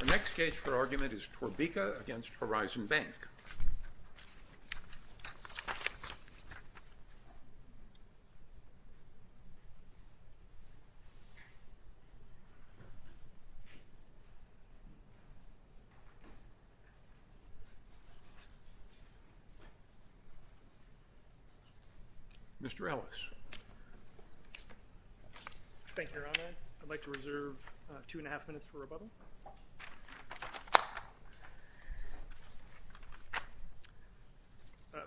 The next case for argument is Torbica v. Horizon Bank. Mr. Ellis. Thank you, Your Honor. I'd like to reserve two and a half minutes for rebuttal.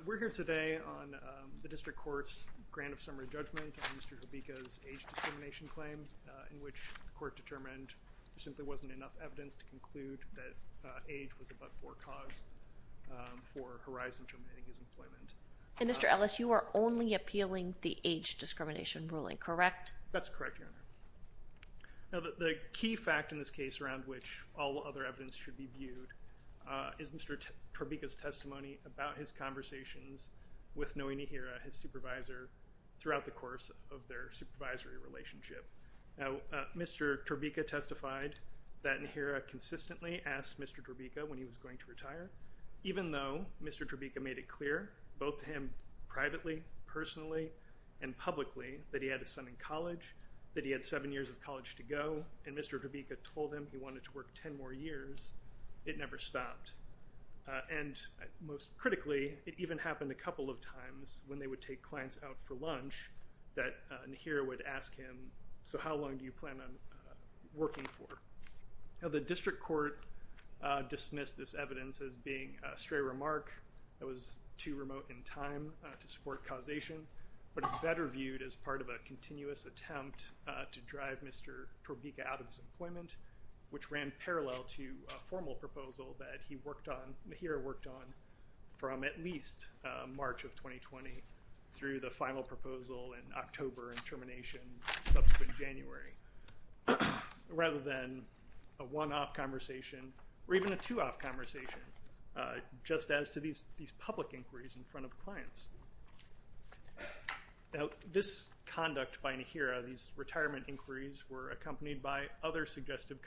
We're here today on the district court's grant of summary judgment on Mr. Torbica's age discrimination claim, in which the court determined there simply wasn't enough evidence to conclude that age was a but-for cause for Horizon to omit his employment. And, Mr. Ellis, you are only appealing the age discrimination ruling, correct? That's correct, Your Honor. Now, the key fact in this case around which all other evidence should be viewed is Mr. Torbica's testimony about his conversations with Noe Nihira, his supervisor, throughout the course of their supervisory relationship. Now, Mr. Torbica testified that Nihira consistently asked Mr. Torbica when he was going to retire, even though Mr. Torbica made it clear, both to him privately, personally, and publicly, that he had his son in college, that he had seven years of college to go, and Mr. Torbica told him he wanted to work ten more years, it never stopped. And, most critically, it even happened a couple of times when they would take clients out for lunch, that Nihira would ask him, so how long do you plan on working for? Now, the district court dismissed this evidence as being a stray remark that was too remote in time to support causation, but it's better viewed as part of a continuous attempt to drive Mr. Torbica out of his employment, which ran parallel to a formal proposal that he worked on, Nihira worked on, from at least March of 2020 through the final proposal in October and termination subsequent January. Rather than a one-off conversation, or even a two-off conversation, just as to these public inquiries in front of clients. Now, this conduct by Nihira, these retirement inquiries, were accompanied by other suggestive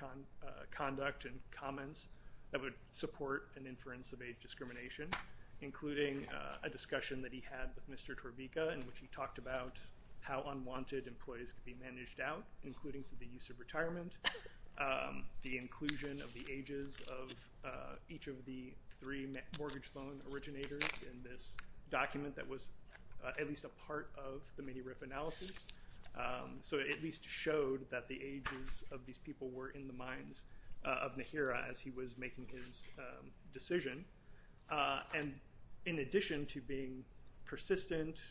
conduct and comments that would support an inference of age discrimination, including a discussion that he had with Mr. Torbica in which he talked about how unwanted employees could be managed out, including through the use of retirement, the inclusion of the ages of each of the three mortgage loan originators in this document that was at least a part of the mini-RIF analysis, so it at least showed that the ages of these people were in the minds of Nihira as he was making his decision. And in addition to being persistent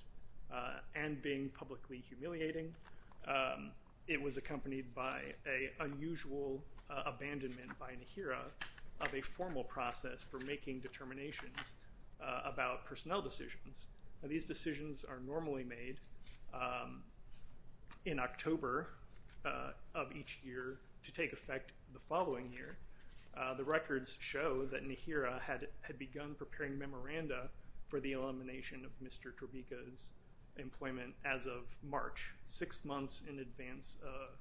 and being publicly humiliating, it was accompanied by an unusual abandonment by Nihira of a formal process for making determinations about personnel decisions. These decisions are normally made in October of each year to take effect the following year. The records show that Nihira had begun preparing memoranda for the elimination of Mr. Torbica's employment as of March, six months in advance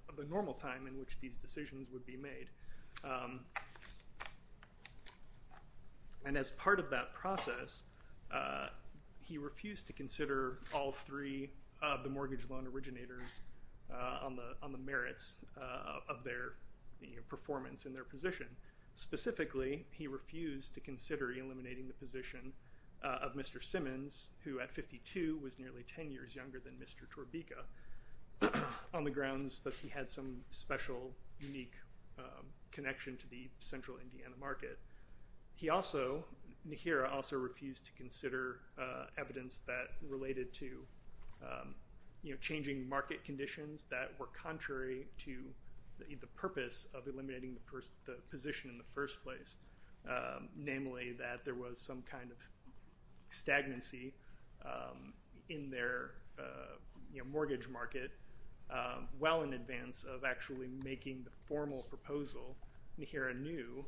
of the normal time in which these decisions would be made. And as part of that process, he refused to consider all three of the mortgage loan originators on the merits of their performance in their position. Specifically, he refused to consider eliminating the position of Mr. Simmons, who at 52 was nearly 10 years younger than Mr. Torbica, on the grounds that he had some special, unique connection to the central Indiana market. Nihira also refused to consider evidence that related to changing market conditions that were contrary to the purpose of eliminating the position in the first place, namely that there was some kind of stagnancy in their mortgage market well in advance of actually making the formal proposal. Nihira knew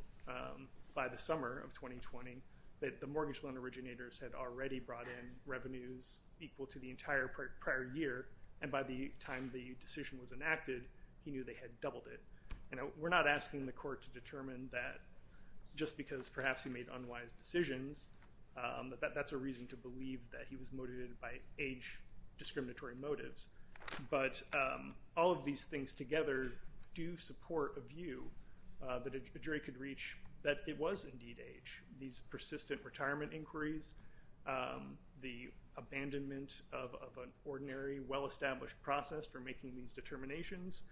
by the summer of 2020 that the mortgage loan originators had already brought in revenues equal to the entire prior year, and by the time the decision was enacted, he knew they had doubled it. We're not asking the court to determine that just because perhaps he made unwise decisions, that that's a reason to believe that he was motivated by age discriminatory motives, but all of these things together do support a view that a jury could reach that it was indeed age. These persistent retirement inquiries, the abandonment of an ordinary, well-established process for making these determinations,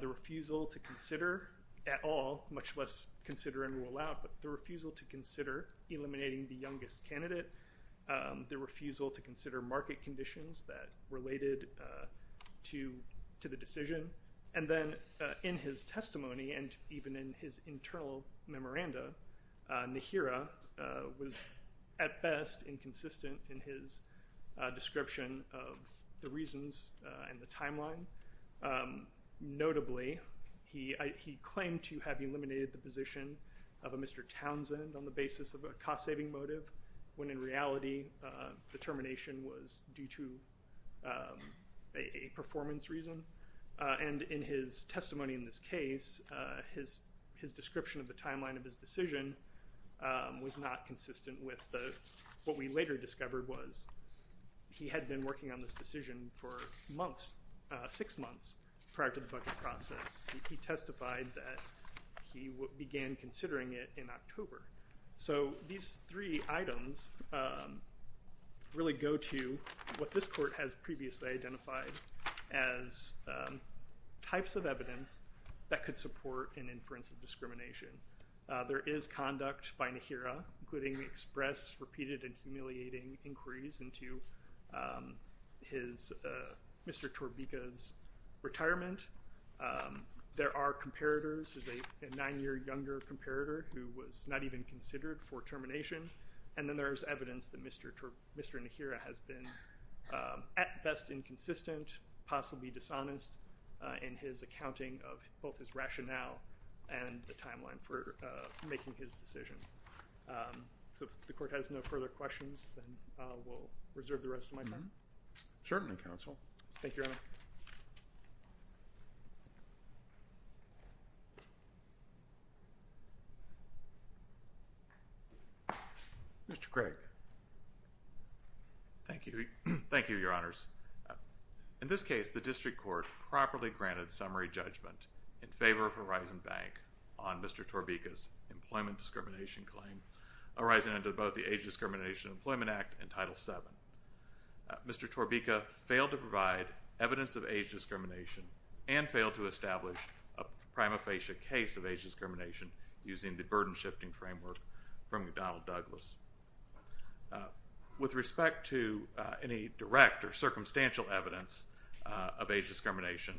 the refusal to consider at all, much less consider and rule out, but the refusal to consider eliminating the youngest candidate, the refusal to consider market conditions that related to the decision, and then in his testimony and even in his internal memoranda, Nihira was at best inconsistent in his description of the reasons and the timeline. Notably, he claimed to have eliminated the position of a Mr. Townsend on the basis of a cost-saving motive, when in reality the termination was due to a performance reason, and in his testimony in this case, his description of the timeline of his decision was not consistent with what we later discovered was he had been working on this decision for months, six months prior to the budget process. He testified that he began considering it in October. So these three items really go to what this court has previously identified as types of evidence that could support an inference of discrimination. There is conduct by Nihira, including the express, repeated, and humiliating inquiries into Mr. Torbika's retirement. There are comparators. There's a nine-year younger comparator who was not even considered for termination, and then there's evidence that Mr. Nihira has been at best inconsistent, dishonest in his accounting of both his rationale and the timeline for making his decision. So if the court has no further questions, then we'll reserve the rest of my time. Certainly, counsel. Thank you, Your Honor. Mr. Craig. Thank you. Thank you, Your Honors. In this case, the district court properly granted summary judgment in favor of Horizon Bank on Mr. Torbika's employment discrimination claim, arising under both the Age Discrimination Employment Act and Title VII. Mr. Torbika failed to provide evidence of age discrimination and failed to establish a prima facie case of age discrimination using the burden-shifting framework from McDonnell Douglas. With respect to any direct or circumstantial evidence of age discrimination,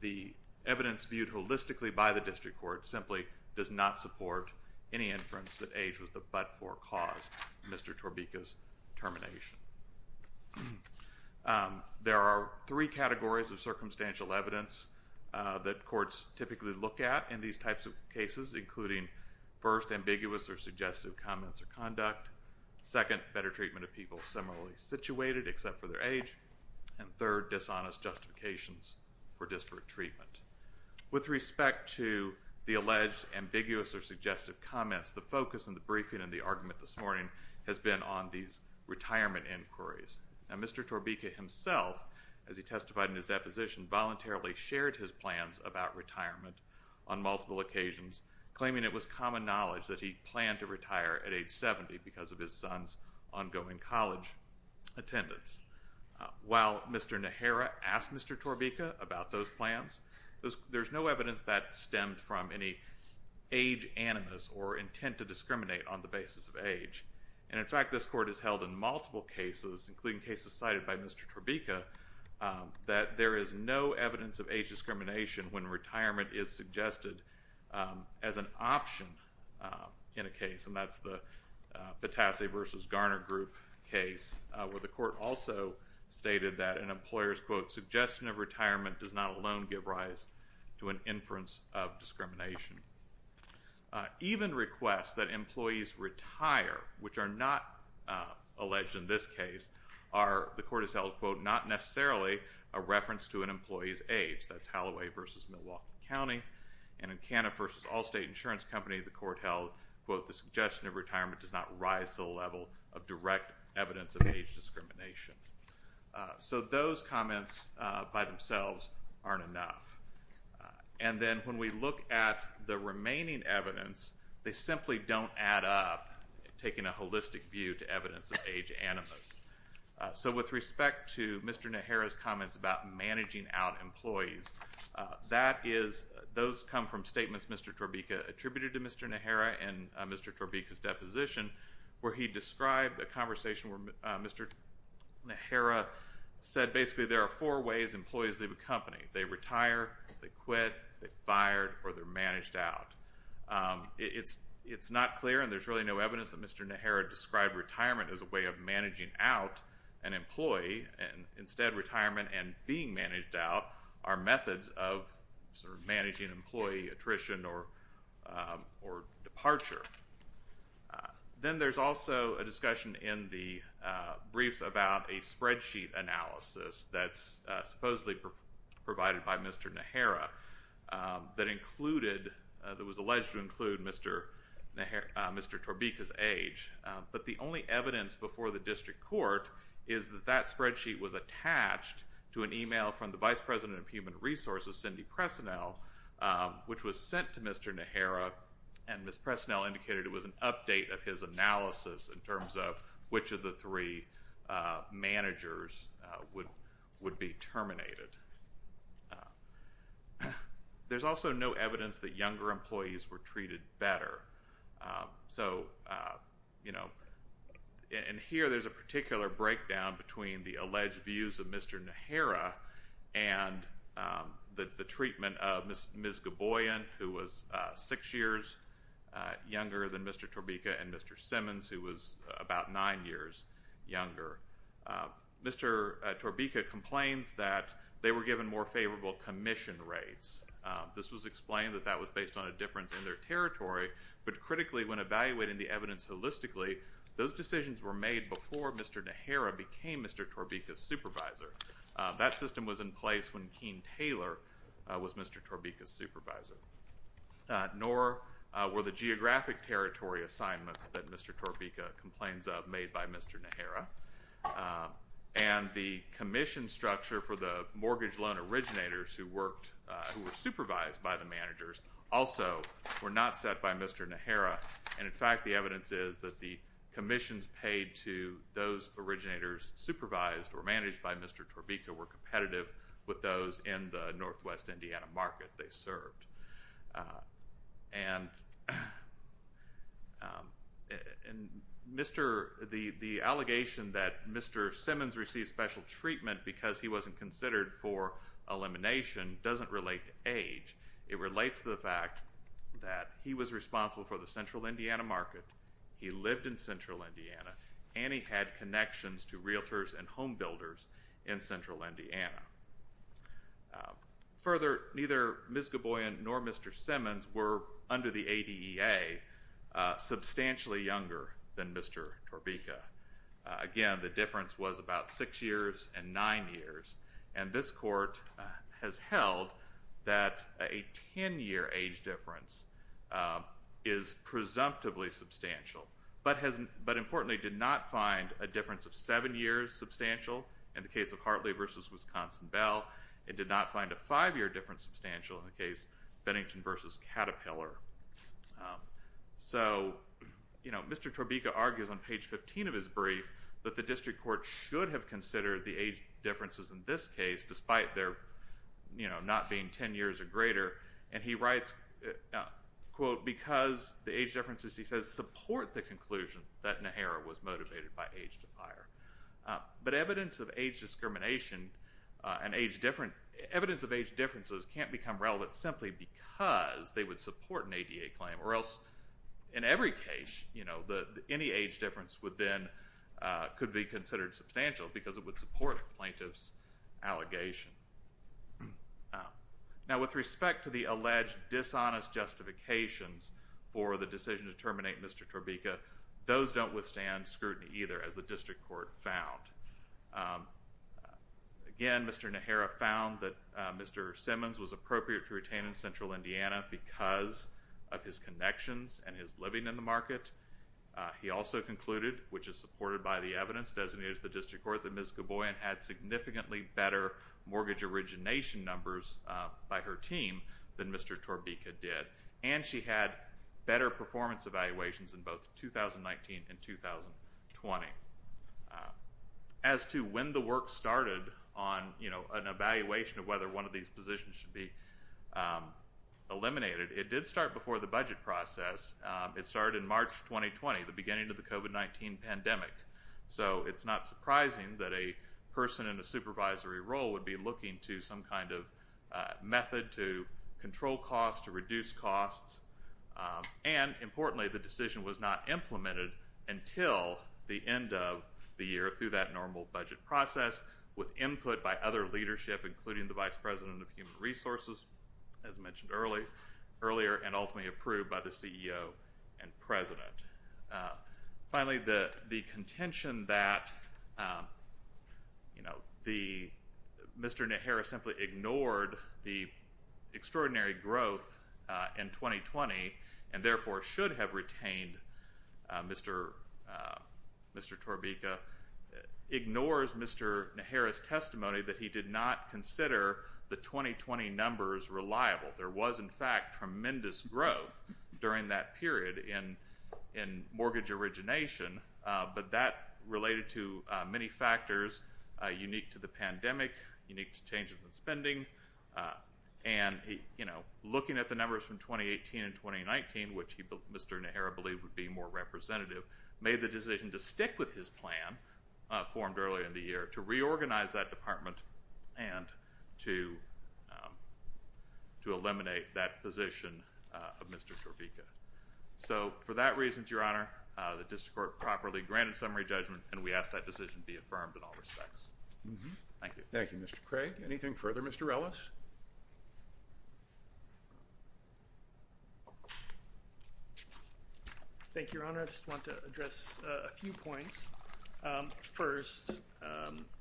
the evidence viewed holistically by the district court simply does not support any inference that age was the but-for cause of Mr. Torbika's termination. There are three categories of circumstantial evidence that courts typically look at in these types of cases, including first, ambiguous or suggestive comments or conduct, second, better treatment of people similarly situated except for their age, and third, dishonest justifications for disparate treatment. With respect to the alleged ambiguous or suggestive comments, the focus in the briefing and the argument this morning has been on these retirement inquiries. Now, Mr. Torbika himself, as he testified in his deposition, voluntarily shared his plans about retirement on multiple occasions, claiming it was common knowledge that he planned to retire at age 70 because of his son's ongoing college attendance. While Mr. Nehera asked Mr. Torbika about those plans, there's no evidence that stemmed from any age animus or intent to discriminate on the basis of age. And, in fact, this court has held in multiple cases, including cases cited by Mr. Torbika, that there is no evidence of age discrimination when retirement is suggested as an option in a case, and that's the Patassi v. Garner Group case where the court also stated that an employer's, quote, suggestion of retirement does not alone give rise to an inference of discrimination. Even requests that employees retire, which are not alleged in this case, are, the court has held, quote, not necessarily a reference to an employee's age. That's Holloway v. Milwaukee County. And in Canna v. Allstate Insurance Company, the court held, quote, the suggestion of retirement does not rise to the level of direct evidence of age discrimination. So those comments by themselves aren't enough. And then when we look at the remaining evidence, they simply don't add up, taking a holistic view to evidence of age animus. So with respect to Mr. Nehera's comments about managing out employees, that is, those come from statements Mr. Torbika attributed to Mr. Nehera in Mr. Torbika's deposition, where he described a conversation where Mr. Nehera said basically there are four ways employees leave a company. They retire, they quit, they're fired, or they're managed out. It's not clear, and there's really no evidence that Mr. Nehera described retirement as a way of managing out an employee. Instead, retirement and being managed out are methods of sort of managing employee attrition or departure. Then there's also a discussion in the briefs about a spreadsheet analysis that's supposedly provided by Mr. Nehera that included, that was alleged to include Mr. Torbika's age. But the only evidence before the district court is that that spreadsheet was attached to an email from the Vice President of Human Resources, Cindy Presinel, which was sent to Mr. Nehera, and Ms. Presinel indicated it was an update of his analysis in terms of which of the three managers would be terminated. There's also no evidence that younger employees were treated better. So, you know, and here there's a particular breakdown between the alleged views of Mr. Nehera and the treatment of Ms. Goboyan, who was six years younger than Mr. Torbika, and Mr. Simmons, who was about nine years younger. Mr. Torbika complains that they were given more favorable commission rates. This was explained that that was based on a difference in their territory, but critically, when evaluating the evidence holistically, those decisions were made before Mr. Nehera became Mr. Torbika's supervisor. That system was in place when Keane Taylor was Mr. Torbika's supervisor. Nor were the geographic territory assignments that Mr. Torbika complains of made by Mr. Nehera. And the commission structure for the mortgage loan originators who worked, who were supervised by the managers, also were not set by Mr. Nehera. And, in fact, the evidence is that the commissions paid to those originators supervised or managed by Mr. Torbika were competitive with those in the northwest Indiana market they served. And the allegation that Mr. Simmons received special treatment because he wasn't considered for elimination doesn't relate to age. It relates to the fact that he was responsible for the central Indiana market, he lived in central Indiana, and he had connections to realtors and home builders in central Indiana. Further, neither Ms. Gaboyan nor Mr. Simmons were, under the ADEA, substantially younger than Mr. Torbika. Again, the difference was about six years and nine years. And this court has held that a ten-year age difference is presumptively substantial, but, importantly, did not find a difference of seven years substantial in the case of Hartley v. Wisconsin Bell. It did not find a five-year difference substantial in the case of Bennington v. Caterpillar. So, you know, Mr. Torbika argues on page 15 of his brief that the district court should have considered the age differences in this case, despite their, you know, not being ten years or greater. And he writes, quote, because the age differences, he says, support the conclusion that Nehera was motivated by age defier. But evidence of age discrimination and age difference, evidence of age differences can't become relevant simply because they would support an ADEA claim. Or else, in every case, you know, any age difference would then, could be considered substantial because it would support the plaintiff's allegation. Now, with respect to the alleged dishonest justifications for the decision to terminate Mr. Torbika, those don't withstand scrutiny either, as the district court found. Again, Mr. Nehera found that Mr. Simmons was appropriate to retain in Central Indiana because of his connections and his living in the market. He also concluded, which is supported by the evidence designated to the district court, that Ms. Gaboyan had significantly better mortgage origination numbers by her team than Mr. Torbika did. And she had better performance evaluations in both 2019 and 2020. As to when the work started on, you know, an evaluation of whether one of these positions should be eliminated, it did start before the budget process. It started in March 2020, the beginning of the COVID-19 pandemic. So, it's not surprising that a person in a supervisory role would be looking to some kind of method to control costs, to reduce costs. And, importantly, the decision was not implemented until the end of the year through that normal budget process, with input by other leadership, including the Vice President of Human Resources, as mentioned earlier, and ultimately approved by the CEO and President. Finally, the contention that, you know, Mr. Nehera simply ignored the extraordinary growth in 2020, and therefore should have retained Mr. Torbika, ignores Mr. Nehera's testimony that he did not consider the 2020 numbers reliable. There was, in fact, tremendous growth during that period in mortgage origination, but that related to many factors unique to the pandemic, unique to changes in spending, and, you know, looking at the numbers from 2018 and 2019, which Mr. Nehera believed would be more representative, made the decision to stick with his plan formed earlier in the year to reorganize that department and to eliminate that position of Mr. Torbika. So, for that reason, Your Honor, the district court properly granted summary judgment, and we ask that decision be affirmed in all respects. Thank you. Thank you, Mr. Craig. Anything further, Mr. Ellis? Thank you, Your Honor. I just want to address a few points. First,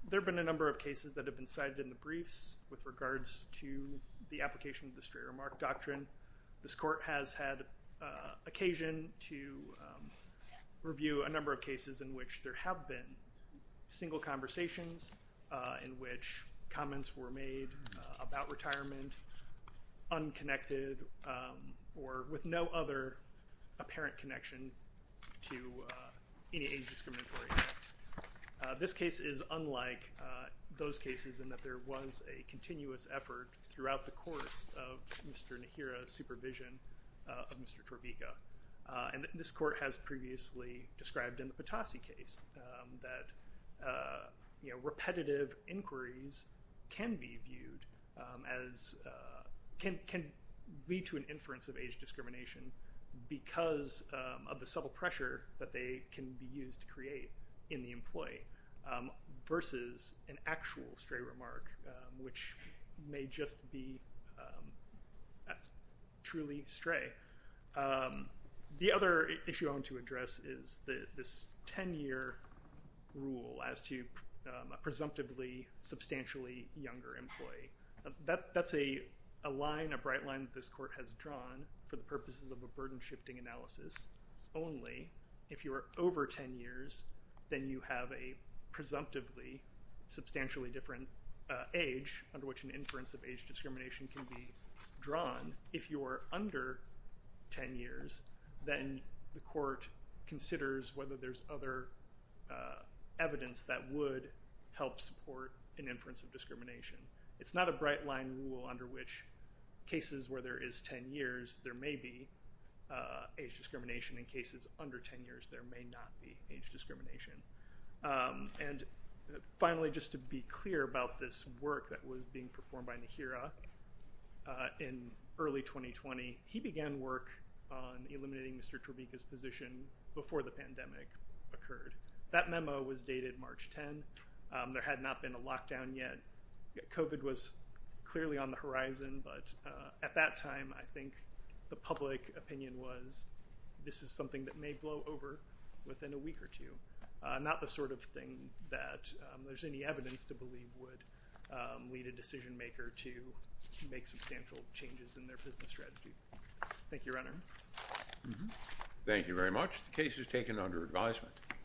there have been a number of cases that have been cited in the briefs with regards to the application of the straight remark doctrine. This court has had occasion to review a number of cases in which there have been single conversations in which comments were made about retirement, unconnected or with no other apparent connection to any age discriminatory act. This case is unlike those cases in that there was a continuous effort throughout the course of Mr. Nehera's supervision of Mr. Torbika. And this court has previously described in the Potassi case that repetitive inquiries can be viewed as, can lead to an inference of age discrimination because of the subtle pressure that they can be used to create in the employee, versus an actual stray remark, which may just be truly stray. The other issue I want to address is this 10-year rule as to a presumptively substantially younger employee. That's a line, a bright line that this court has drawn for the purposes of a burden-shifting analysis. Only if you are over 10 years, then you have a presumptively substantially different age under which an inference of age discrimination can be drawn. If you are under 10 years, then the court considers whether there's other evidence that would help support an inference of discrimination. It's not a bright line rule under which cases where there is 10 years, there may be age discrimination. In cases under 10 years, there may not be age discrimination. And finally, just to be clear about this work that was being performed by Nehera in early 2020, he began work on eliminating Mr. Torbika's position before the pandemic occurred. That memo was dated March 10. There had not been a lockdown yet. COVID was clearly on the horizon. But at that time, I think the public opinion was this is something that may blow over within a week or two, not the sort of thing that there's any evidence to believe would lead a decision maker to make substantial changes in their business strategy. Thank you, Your Honor. Thank you very much. The case is taken under advisement.